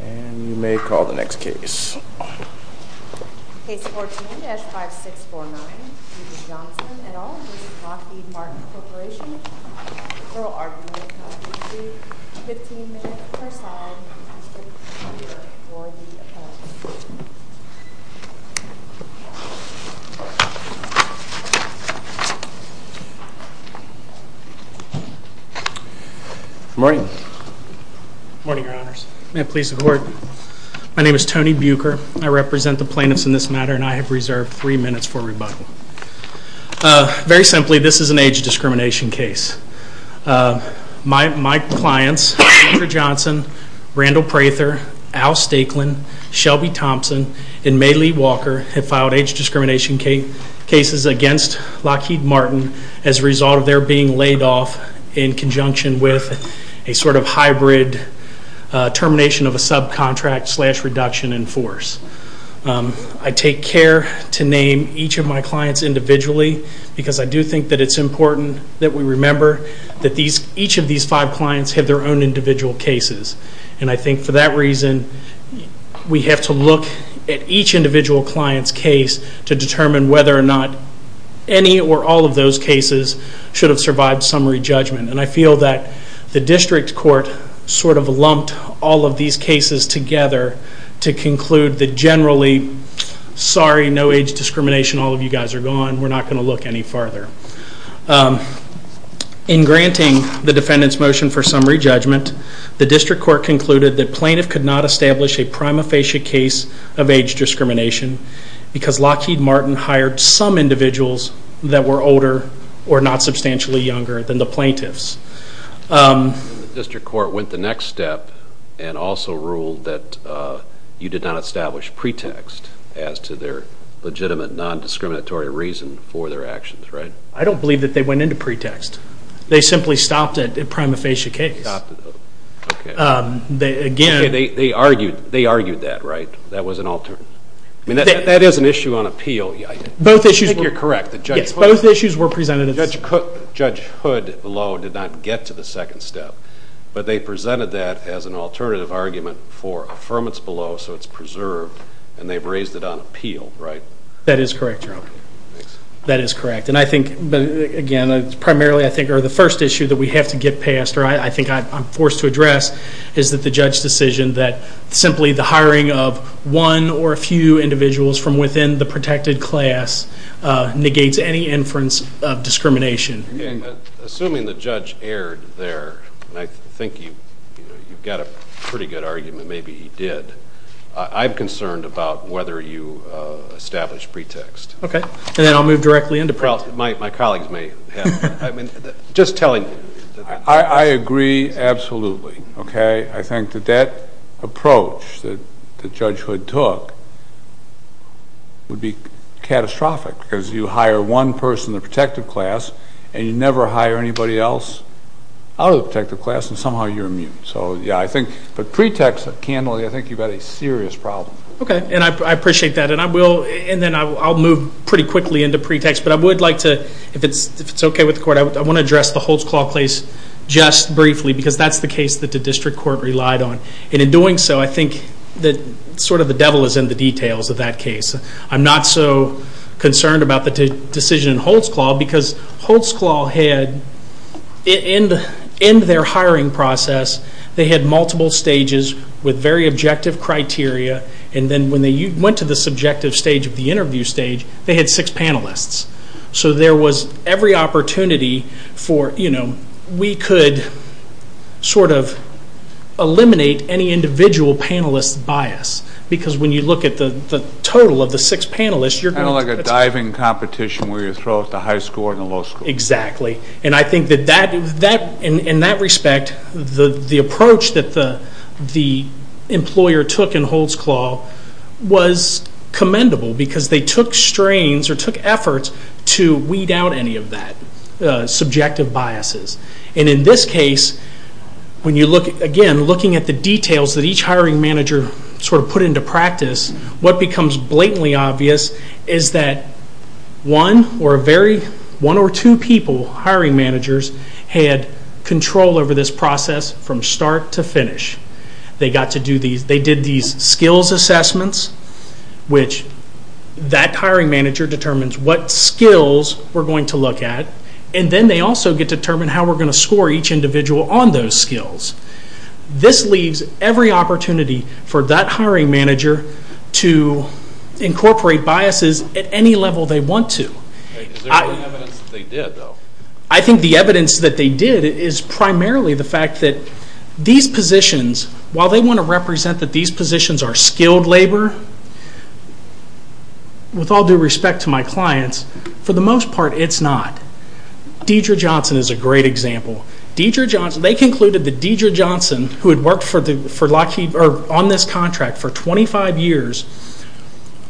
And you may call the next case. Case 14-5649, D.J. Johnson et al. v. Lockheed Martin Corporation. Feral argument of dispute. 15 minutes per side. Good morning. Good morning, your honors. May it please the court. My name is Tony Bucher. I represent the plaintiffs in this matter and I have reserved three minutes for rebuttal. Very simply, this is an age discrimination case. My clients, Andrea Johnson, Randall Prather, Al Stakelin, Shelby Thompson, and May Lee Walker have filed age discrimination cases against Lockheed Martin as a result of their being laid off in conjunction with a sort of hybrid termination of a subcontract slash reduction in force. I take care to name each of my clients individually because I do think that it's important that we remember that each of these five clients have their own individual cases. And I think for that reason, we have to look at each individual client's case to determine whether or not any or all of those cases should have survived summary judgment. And I feel that the district court sort of lumped all of these cases together to conclude that generally, sorry, no age discrimination, all of you guys are gone. We're not going to look any farther. In granting the defendant's motion for summary judgment, the district court concluded that plaintiff could not establish a prima facie case of age discrimination because Lockheed Martin hired some individuals that were older or not substantially younger than the plaintiffs. The district court went the next step and also ruled that you did not establish pretext as to their legitimate non-discriminatory reason for their actions, right? I don't believe that they went into pretext. They simply stopped a prima facie case. They stopped it, okay. Okay, they argued that, right? That was an alternative. I mean, that is an issue on appeal. I think you're correct. Yes, both issues were presented. Judge Hood below did not get to the second step, but they presented that as an alternative argument for affirmance below so it's preserved, and they've raised it on appeal, right? That is correct, Jerome. That is correct. And I think, again, primarily I think the first issue that we have to get past, or I think I'm forced to address, is that the judge's decision that simply the hiring of one or a few individuals from within the protected class negates any inference of discrimination. Assuming the judge erred there, and I think you've got a pretty good argument maybe he did, I'm concerned about whether you establish pretext. Okay. And then I'll move directly into my colleagues may have. I mean, just telling you. I agree absolutely, okay. I think that that approach that Judge Hood took would be catastrophic because you hire one person in the protected class and you never hire anybody else out of the protected class, and somehow you're immune. So, yeah, I think the pretext, candidly, I think you've got a serious problem. Okay, and I appreciate that. And I will, and then I'll move pretty quickly into pretext, but I would like to, if it's okay with the court, I want to address the Holtzclaw case just briefly because that's the case that the district court relied on. And in doing so, I think that sort of the devil is in the details of that case. I'm not so concerned about the decision in Holtzclaw because Holtzclaw had, in their hiring process, they had multiple stages with very objective criteria, and then when they went to the subjective stage of the interview stage, they had six panelists. So there was every opportunity for, you know, we could sort of eliminate any individual panelist bias because when you look at the total of the six panelists, you're going to It's like a diving competition where you throw out the high score and the low score. Exactly. And I think that in that respect, the approach that the employer took in Holtzclaw was commendable because they took strains or took efforts to weed out any of that subjective biases. And in this case, when you look, again, looking at the details that each hiring manager sort of put into practice, what becomes blatantly obvious is that one or two people, hiring managers, had control over this process from start to finish. They did these skills assessments, which that hiring manager determines what skills we're going to look at, and then they also get to determine how we're going to score each individual on those skills. This leaves every opportunity for that hiring manager to incorporate biases at any level they want to. Is there any evidence that they did, though? I think the evidence that they did is primarily the fact that these positions, while they want to represent that these positions are skilled labor, with all due respect to my clients, for the most part, it's not. Deidre Johnson is a great example. They concluded that Deidre Johnson, who had worked on this contract for 25 years,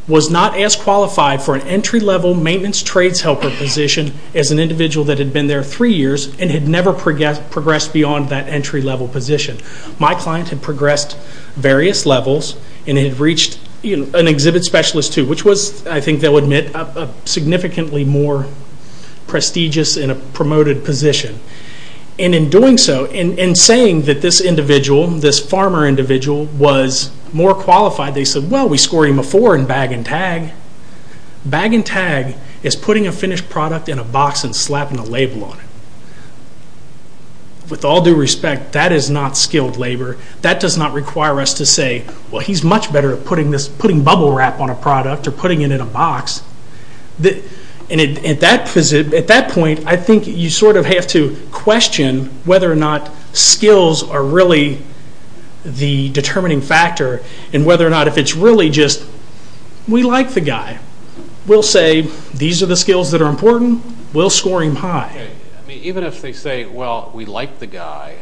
was not as qualified for an entry-level maintenance trades helper position as an individual that had been there three years and had never progressed beyond that entry-level position. My client had progressed various levels and had reached an exhibit specialist, too, which was, I think they'll admit, a significantly more prestigious and promoted position. In doing so, in saying that this individual, this farmer individual, was more qualified, they said, well, we scored him a four in bag and tag. Bag and tag is putting a finished product in a box and slapping a label on it. With all due respect, that is not skilled labor. That does not require us to say, well, he's much better at putting bubble wrap on a product or putting it in a box. At that point, I think you sort of have to question whether or not skills are really the determining factor and whether or not if it's really just, we like the guy, we'll say these are the skills that are important, we'll score him high. Even if they say, well, we like the guy,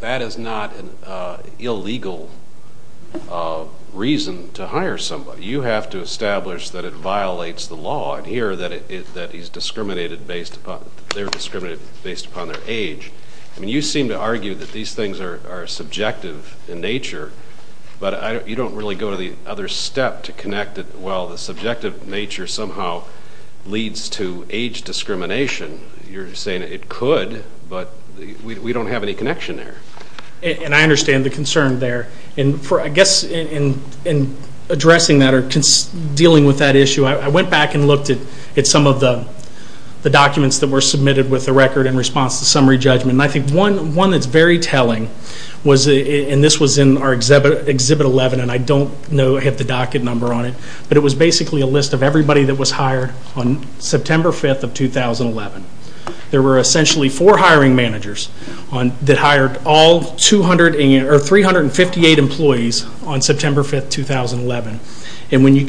that is not an illegal reason to hire somebody. You have to establish that it violates the law and here that they're discriminated based upon their age. You seem to argue that these things are subjective in nature, but you don't really go to the other step to connect it. Well, the subjective nature somehow leads to age discrimination. You're saying it could, but we don't have any connection there. I understand the concern there. I guess in addressing that or dealing with that issue, I went back and looked at some of the documents that were submitted with the record in response to summary judgment. I think one that's very telling, and this was in our exhibit 11, and I don't have the docket number on it, but it was basically a list of everybody that was hired on September 5th of 2011. There were essentially four hiring managers that hired 358 employees on September 5th, 2011. When you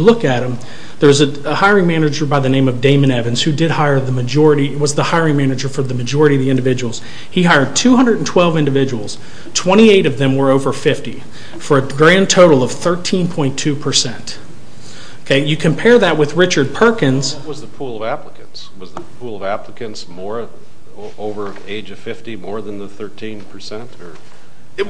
look at them, there's a hiring manager by the name of Damon Evans who was the hiring manager for the majority of the individuals. He hired 212 individuals. Twenty-eight of them were over 50 for a grand total of 13.2%. You compare that with Richard Perkins. What was the pool of applicants? Was the pool of applicants over the age of 50 more than the 13%?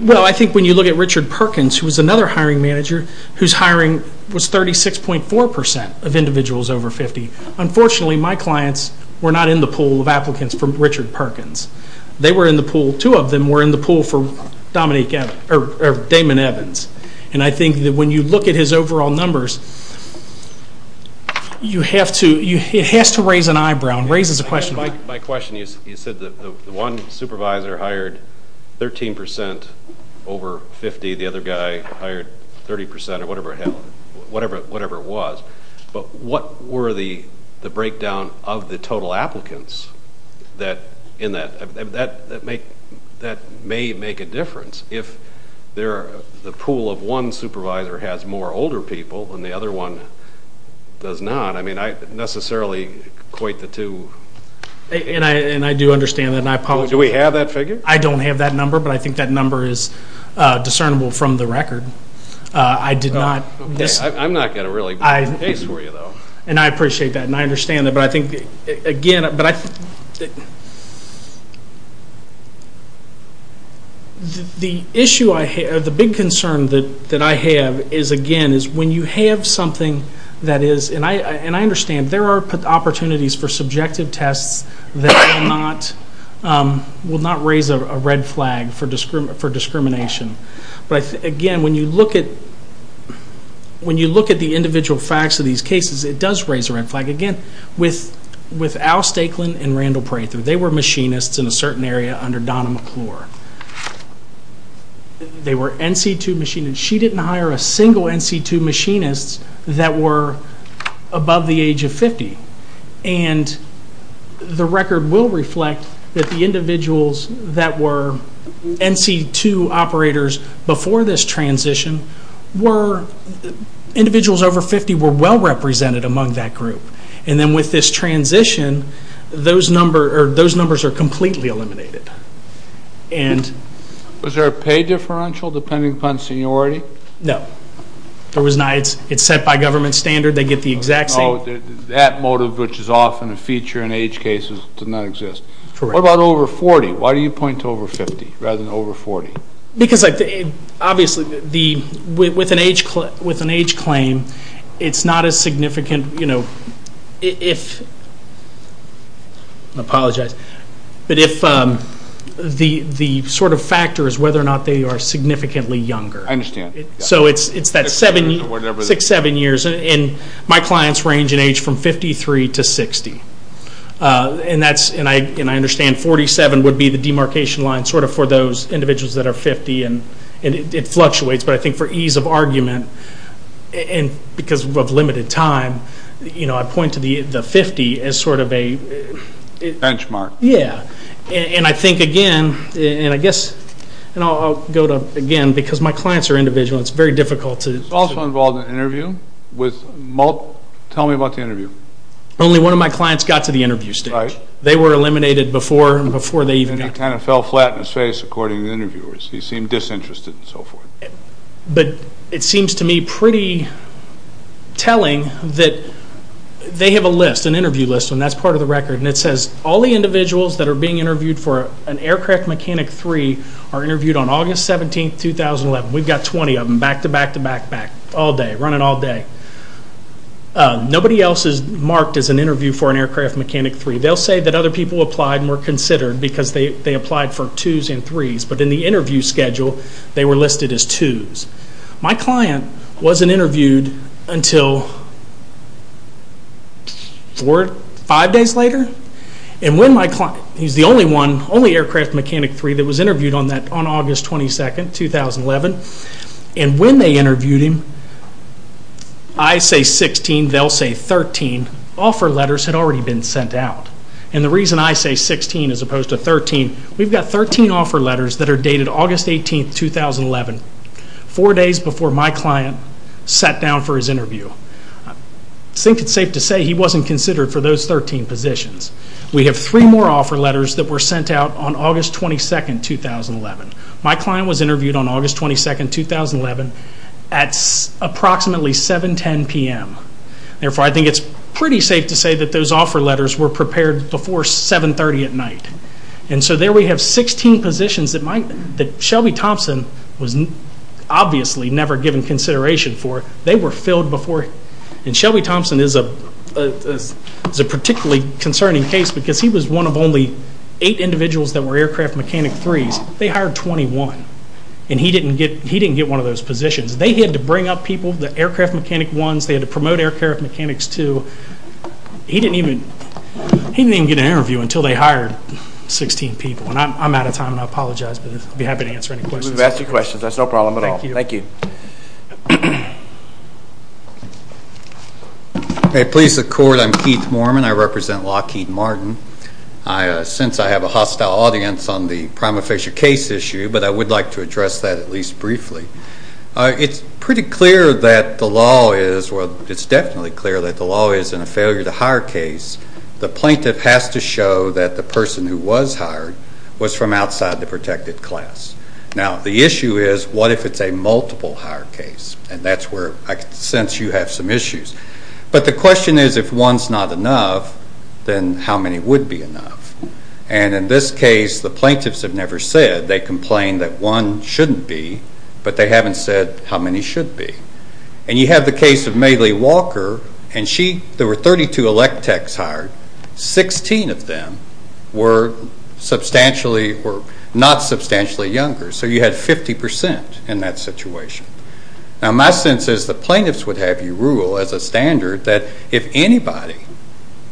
Well, I think when you look at Richard Perkins, who was another hiring manager, whose hiring was 36.4% of individuals over 50. Unfortunately, my clients were not in the pool of applicants for Richard Perkins. They were in the pool. Two of them were in the pool for Damon Evans. And I think that when you look at his overall numbers, it has to raise an eyebrow. It raises a question. My question is, you said the one supervisor hired 13% over 50. The other guy hired 30% or whatever it was. But what were the breakdown of the total applicants in that? That may make a difference. If the pool of one supervisor has more older people and the other one does not, I mean, I necessarily equate the two. And I do understand that, and I apologize. Do we have that figure? I don't have that number, but I think that number is discernible from the record. I did not. I'm not going to really beat the pace for you, though. And I appreciate that, and I understand that. But I think, again, the issue I have, the big concern that I have is, again, is when you have something that is, and I understand, there are opportunities for subjective tests that will not raise a red flag for discrimination. But, again, when you look at the individual facts of these cases, it does raise a red flag. Again, with Al Stakeland and Randall Prather, they were machinists in a certain area under Donna McClure. They were NC2 machinists. She didn't hire a single NC2 machinist that were above the age of 50. And the record will reflect that the individuals that were NC2 operators before this transition were individuals over 50 were well represented among that group. And then with this transition, those numbers are completely eliminated. Was there a pay differential depending upon seniority? No. It's set by government standard. They get the exact same. So that motive, which is often a feature in age cases, does not exist. Correct. What about over 40? Why do you point to over 50 rather than over 40? Because, obviously, with an age claim, it's not as significant if, I apologize, but if the sort of factor is whether or not they are significantly younger. I understand. So it's that six, seven years. And my clients range in age from 53 to 60. And I understand 47 would be the demarcation line sort of for those individuals that are 50. And it fluctuates. But I think for ease of argument and because of limited time, I point to the 50 as sort of a benchmark. Yeah. And I think, again, and I guess I'll go to, again, because my clients are individual, it's very difficult to. He's also involved in an interview. Tell me about the interview. Only one of my clients got to the interview stage. They were eliminated before they even got to it. And he kind of fell flat on his face, according to the interviewers. He seemed disinterested and so forth. But it seems to me pretty telling that they have a list, an interview list, and that's part of the record. And it says all the individuals that are being interviewed for an Aircraft Mechanic 3 are interviewed on August 17, 2011. We've got 20 of them, back to back to back, back, all day, running all day. Nobody else is marked as an interview for an Aircraft Mechanic 3. They'll say that other people applied and were considered because they applied for twos and threes. But in the interview schedule, they were listed as twos. My client wasn't interviewed until four, five days later. And when my client, he's the only one, only Aircraft Mechanic 3 that was interviewed on August 22, 2011. And when they interviewed him, I say 16, they'll say 13, offer letters had already been sent out. And the reason I say 16 as opposed to 13, we've got 13 offer letters that are dated August 18, 2011. Four days before my client sat down for his interview. I think it's safe to say he wasn't considered for those 13 positions. We have three more offer letters that were sent out on August 22, 2011. My client was interviewed on August 22, 2011 at approximately 7.10 p.m. Therefore, I think it's pretty safe to say that those offer letters were prepared before 7.30 at night. And so there we have 16 positions that Shelby Thompson was obviously never given consideration for. They were filled before. And Shelby Thompson is a particularly concerning case because he was one of only eight individuals that were Aircraft Mechanic 3s. They hired 21. And he didn't get one of those positions. They had to bring up people, the Aircraft Mechanic 1s, they had to promote Aircraft Mechanics 2. He didn't even get an interview until they hired 16 people. And I'm out of time, and I apologize. But I'd be happy to answer any questions. We've asked your questions. That's no problem at all. Thank you. Thank you. Police, the Court. I'm Keith Moorman. I represent Lockheed Martin. Since I have a hostile audience on the Prima Facie case issue, but I would like to address that at least briefly. It's pretty clear that the law is, well, it's definitely clear that the law is in a failure to hire case, the plaintiff has to show that the person who was hired was from outside the protected class. Now, the issue is what if it's a multiple hire case? And that's where I sense you have some issues. But the question is if one's not enough, then how many would be enough? And in this case, the plaintiffs have never said. They complain that one shouldn't be, but they haven't said how many should be. And you have the case of May Lee Walker, and there were 32 electechs hired. Sixteen of them were not substantially younger. So you had 50% in that situation. Now, my sense is the plaintiffs would have you rule as a standard that if anybody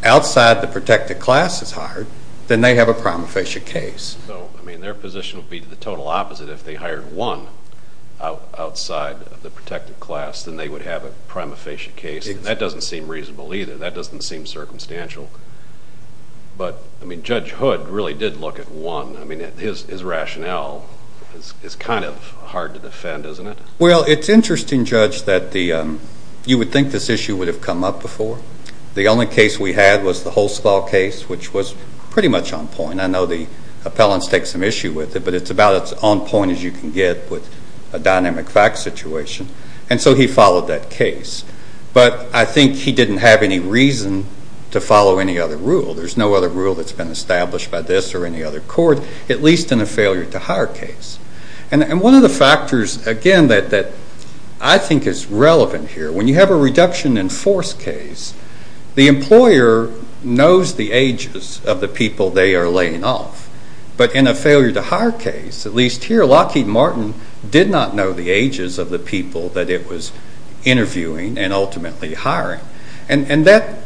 outside the protected class is hired, then they have a Prima Facie case. So, I mean, their position would be the total opposite. If they hired one outside of the protected class, then they would have a Prima Facie case. That doesn't seem reasonable either. That doesn't seem circumstantial. But, I mean, Judge Hood really did look at one. I mean, his rationale is kind of hard to defend, isn't it? Well, it's interesting, Judge, that you would think this issue would have come up before. The only case we had was the Holstall case, which was pretty much on point. And I know the appellants take some issue with it, but it's about as on point as you can get with a dynamic fact situation. And so he followed that case. But I think he didn't have any reason to follow any other rule. There's no other rule that's been established by this or any other court, at least in a failure-to-hire case. And one of the factors, again, that I think is relevant here, when you have a reduction-in-force case, the employer knows the ages of the people they are laying off. But in a failure-to-hire case, at least here, Lockheed Martin did not know the ages of the people that it was interviewing and ultimately hiring. And that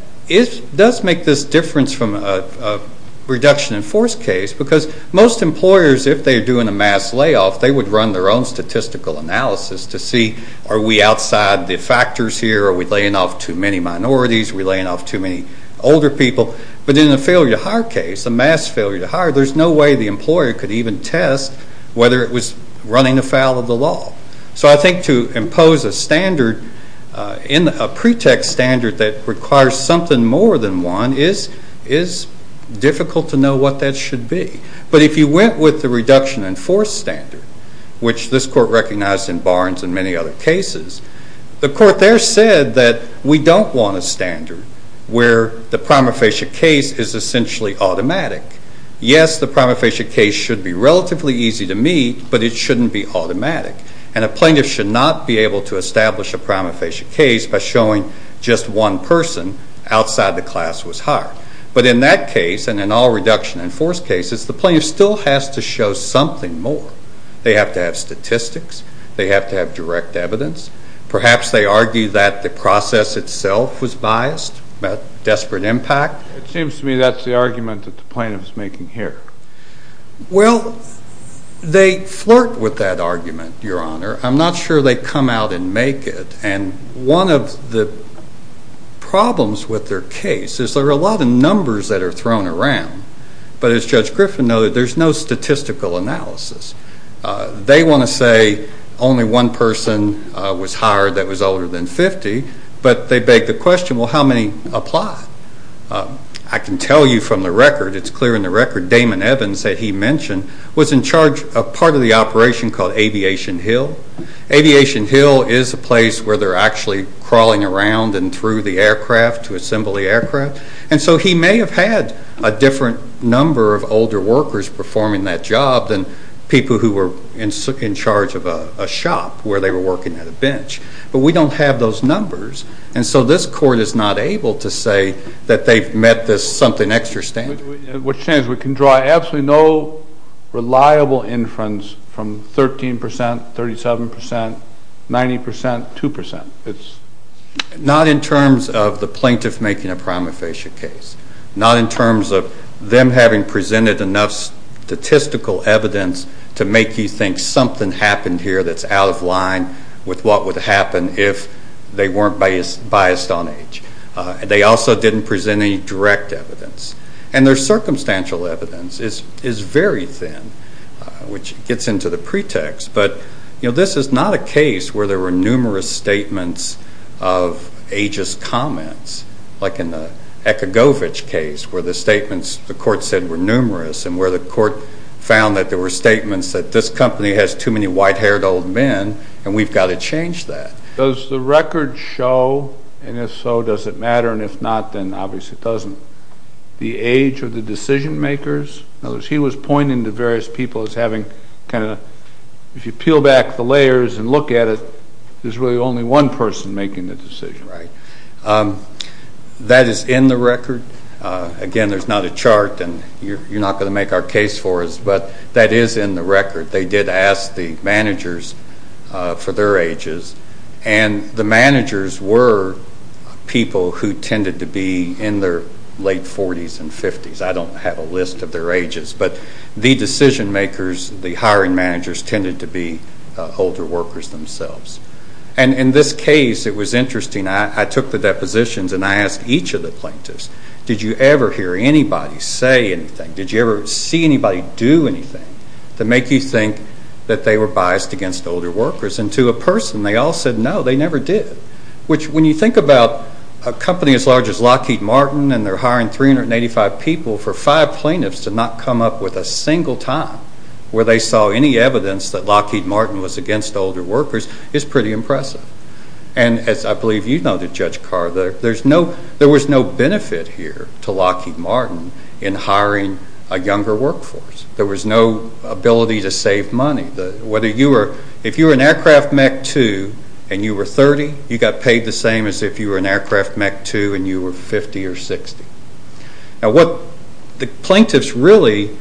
does make this difference from a reduction-in-force case, because most employers, if they're doing a mass layoff, they would run their own statistical analysis to see, are we outside the factors here? Are we laying off too many minorities? Are we laying off too many older people? But in a failure-to-hire case, a mass failure-to-hire, there's no way the employer could even test whether it was running afoul of the law. So I think to impose a standard, a pretext standard that requires something more than one, is difficult to know what that should be. But if you went with the reduction-in-force standard, which this court recognized in Barnes and many other cases, the court there said that we don't want a standard where the prima facie case is essentially automatic. Yes, the prima facie case should be relatively easy to meet, but it shouldn't be automatic. And a plaintiff should not be able to establish a prima facie case by showing just one person outside the class was hired. But in that case, and in all reduction-in-force cases, the plaintiff still has to show something more. They have to have statistics. They have to have direct evidence. Perhaps they argue that the process itself was biased, had a desperate impact. It seems to me that's the argument that the plaintiff is making here. Well, they flirt with that argument, Your Honor. I'm not sure they come out and make it. And one of the problems with their case is there are a lot of numbers that are thrown around. But as Judge Griffin noted, there's no statistical analysis. They want to say only one person was hired that was older than 50, but they beg the question, well, how many apply? I can tell you from the record, it's clear in the record, Damon Evans, that he mentioned, was in charge of part of the operation called Aviation Hill. Aviation Hill is a place where they're actually crawling around and through the aircraft to assemble the aircraft. And so he may have had a different number of older workers performing that job than people who were in charge of a shop where they were working at a bench. But we don't have those numbers. And so this Court is not able to say that they've met this something extra standard. We can draw absolutely no reliable inference from 13 percent, 37 percent, 90 percent, 2 percent. Not in terms of the plaintiff making a prima facie case. Not in terms of them having presented enough statistical evidence to make you think something happened here that's out of line with what would happen if they weren't biased on age. They also didn't present any direct evidence. And their circumstantial evidence is very thin, which gets into the pretext. But this is not a case where there were numerous statements of ageist comments, like in the Ekagovic case where the statements the Court said were numerous and where the Court found that there were statements that this company has too many white-haired old men and we've got to change that. Does the record show, and if so, does it matter, and if not, then obviously it doesn't, the age of the decision-makers? In other words, he was pointing to various people as having kind of, if you peel back the layers and look at it, there's really only one person making the decision. Right. That is in the record. Again, there's not a chart, and you're not going to make our case for us, but that is in the record. They did ask the managers for their ages, and the managers were people who tended to be in their late 40s and 50s. I don't have a list of their ages. But the decision-makers, the hiring managers, tended to be older workers themselves. And in this case, it was interesting. I took the depositions and I asked each of the plaintiffs, did you ever hear anybody say anything? Did you ever see anybody do anything to make you think that they were biased against older workers? And to a person, they all said no, they never did, which when you think about a company as large as Lockheed Martin and they're hiring 385 people for five plaintiffs to not come up with a single time where they saw any evidence that Lockheed Martin was against older workers is pretty impressive. And as I believe you know, Judge Carr, there was no benefit here to Lockheed Martin in hiring a younger workforce. There was no ability to save money. If you were an aircraft Mech 2 and you were 30, you got paid the same as if you were an aircraft Mech 2 and you were 50 or 60. Now what the plaintiffs really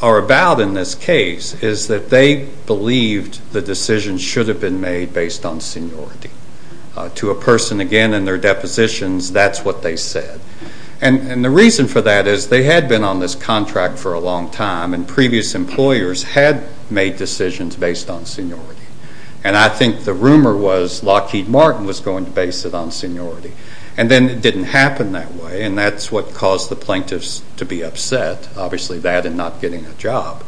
are about in this case is that they believed the decision should have been made based on seniority. To a person, again in their depositions, that's what they said. And the reason for that is they had been on this contract for a long time and previous employers had made decisions based on seniority. And I think the rumor was Lockheed Martin was going to base it on seniority. And then it didn't happen that way and that's what caused the plaintiffs to be upset, obviously that and not getting a job.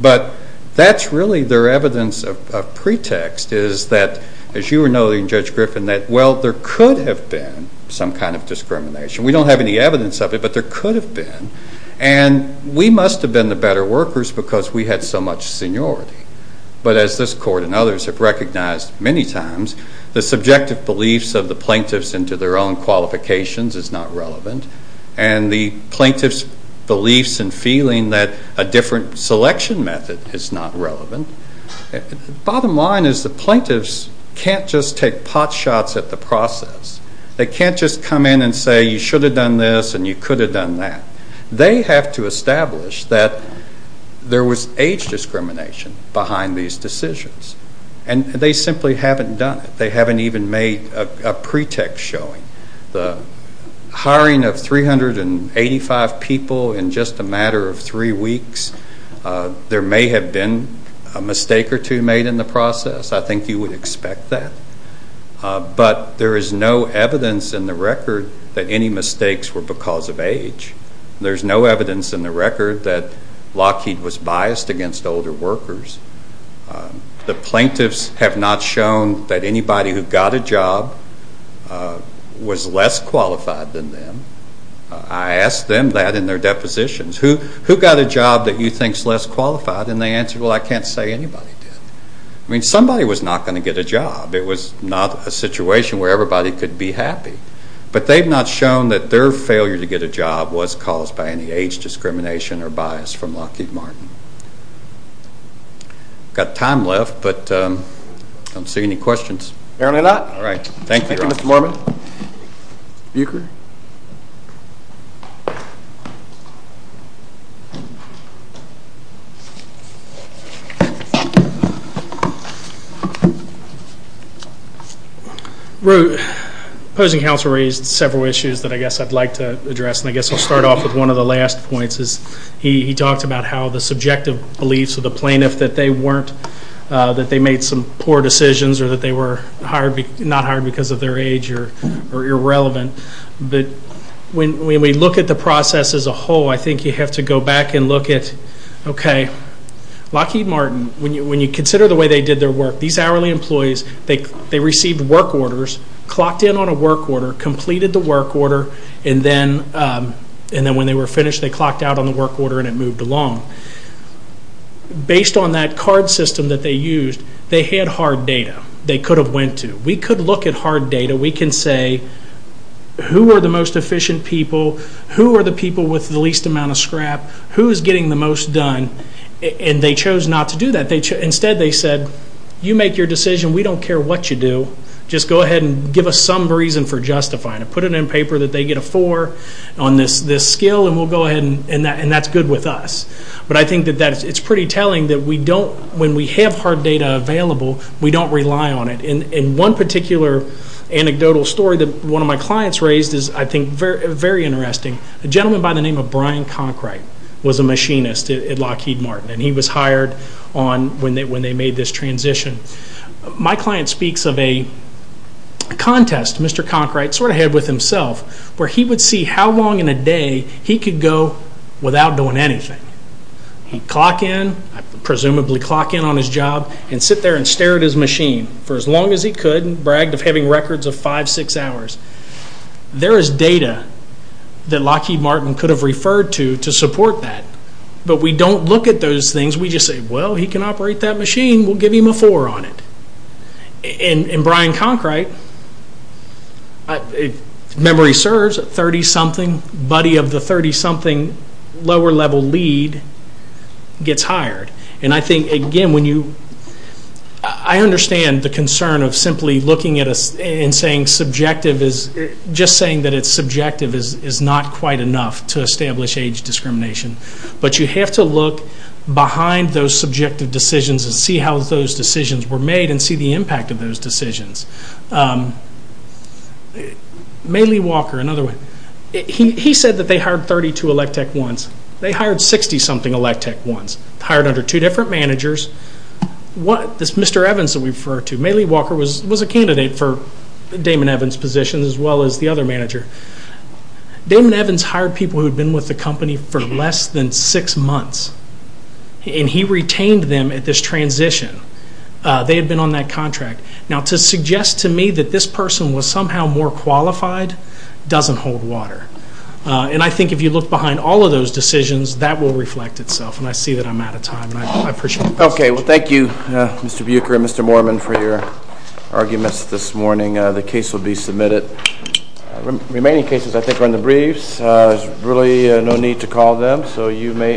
But that's really their evidence of pretext is that, as you were noting, Judge Griffin, that well, there could have been some kind of discrimination. We don't have any evidence of it, but there could have been. And we must have been the better workers because we had so much seniority. But as this court and others have recognized many times, the subjective beliefs of the plaintiffs into their own qualifications is not relevant and the plaintiffs' beliefs and feeling that a different selection method is not relevant. Bottom line is the plaintiffs can't just take pot shots at the process. They can't just come in and say you should have done this and you could have done that. They have to establish that there was age discrimination behind these decisions. And they simply haven't done it. They haven't even made a pretext showing. The hiring of 385 people in just a matter of three weeks, there may have been a mistake or two made in the process. I think you would expect that. But there is no evidence in the record that any mistakes were because of age. There's no evidence in the record that Lockheed was biased against older workers. The plaintiffs have not shown that anybody who got a job was less qualified than them. I asked them that in their depositions. Who got a job that you think is less qualified? And they answered, well, I can't say anybody did. I mean somebody was not going to get a job. It was not a situation where everybody could be happy. But they have not shown that their failure to get a job was caused by any age discrimination or bias from Lockheed Martin. We've got time left, but I don't see any questions. Apparently not. All right. Thank you. Thank you, Mr. Mormon. Buecher. Opposing counsel raised several issues that I guess I'd like to address, and I guess I'll start off with one of the last points. He talked about how the subjective beliefs of the plaintiff that they weren't, that they made some poor decisions or that they were not hired because of their age or irrelevant. When we look at the process as a whole, I think you have to go back and look at, okay, Lockheed Martin, when you consider the way they did their work, these hourly employees, they received work orders, clocked in on a work order, completed the work order, and then when they were finished, they clocked out on the work order and it moved along. Based on that card system that they used, they had hard data. They could have went to. We could look at hard data. We can say, who are the most efficient people? Who are the people with the least amount of scrap? Who is getting the most done? And they chose not to do that. Instead they said, you make your decision. We don't care what you do. Just go ahead and give us some reason for justifying it. Put it in paper that they get a four on this skill, and we'll go ahead and that's good with us. But I think that it's pretty telling that we don't, when we have hard data available, we don't rely on it. And one particular anecdotal story that one of my clients raised is, I think, very interesting. A gentleman by the name of Brian Conkright was a machinist at Lockheed Martin, and he was hired when they made this transition. My client speaks of a contest Mr. Conkright sort of had with himself where he would see how long in a day he could go without doing anything. He'd clock in, presumably clock in on his job, and sit there and stare at his machine for as long as he could, and bragged of having records of five, six hours. There is data that Lockheed Martin could have referred to to support that. But we don't look at those things. We just say, well, he can operate that machine. We'll give him a four on it. And Brian Conkright, memory serves, 30-something, buddy of the 30-something lower-level lead, gets hired. And I think, again, when you – I understand the concern of simply looking at us and saying subjective is – just saying that it's subjective is not quite enough to establish age discrimination. But you have to look behind those subjective decisions and see how those decisions were made and see the impact of those decisions. May Lee Walker, another one, he said that they hired 32 elect tech ones. They hired 60-something elect tech ones, hired under two different managers. This Mr. Evans that we refer to, May Lee Walker was a candidate for Damon Evans' position as well as the other manager. Damon Evans hired people who had been with the company for less than six months, and he retained them at this transition. They had been on that contract. Now, to suggest to me that this person was somehow more qualified doesn't hold water. And I think if you look behind all of those decisions, that will reflect itself. And I see that I'm out of time, and I appreciate it. Okay. Well, thank you, Mr. Bucher and Mr. Moorman, for your arguments this morning. The case will be submitted. Remaining cases, I think, are in the briefs. There's really no need to call them, so you may –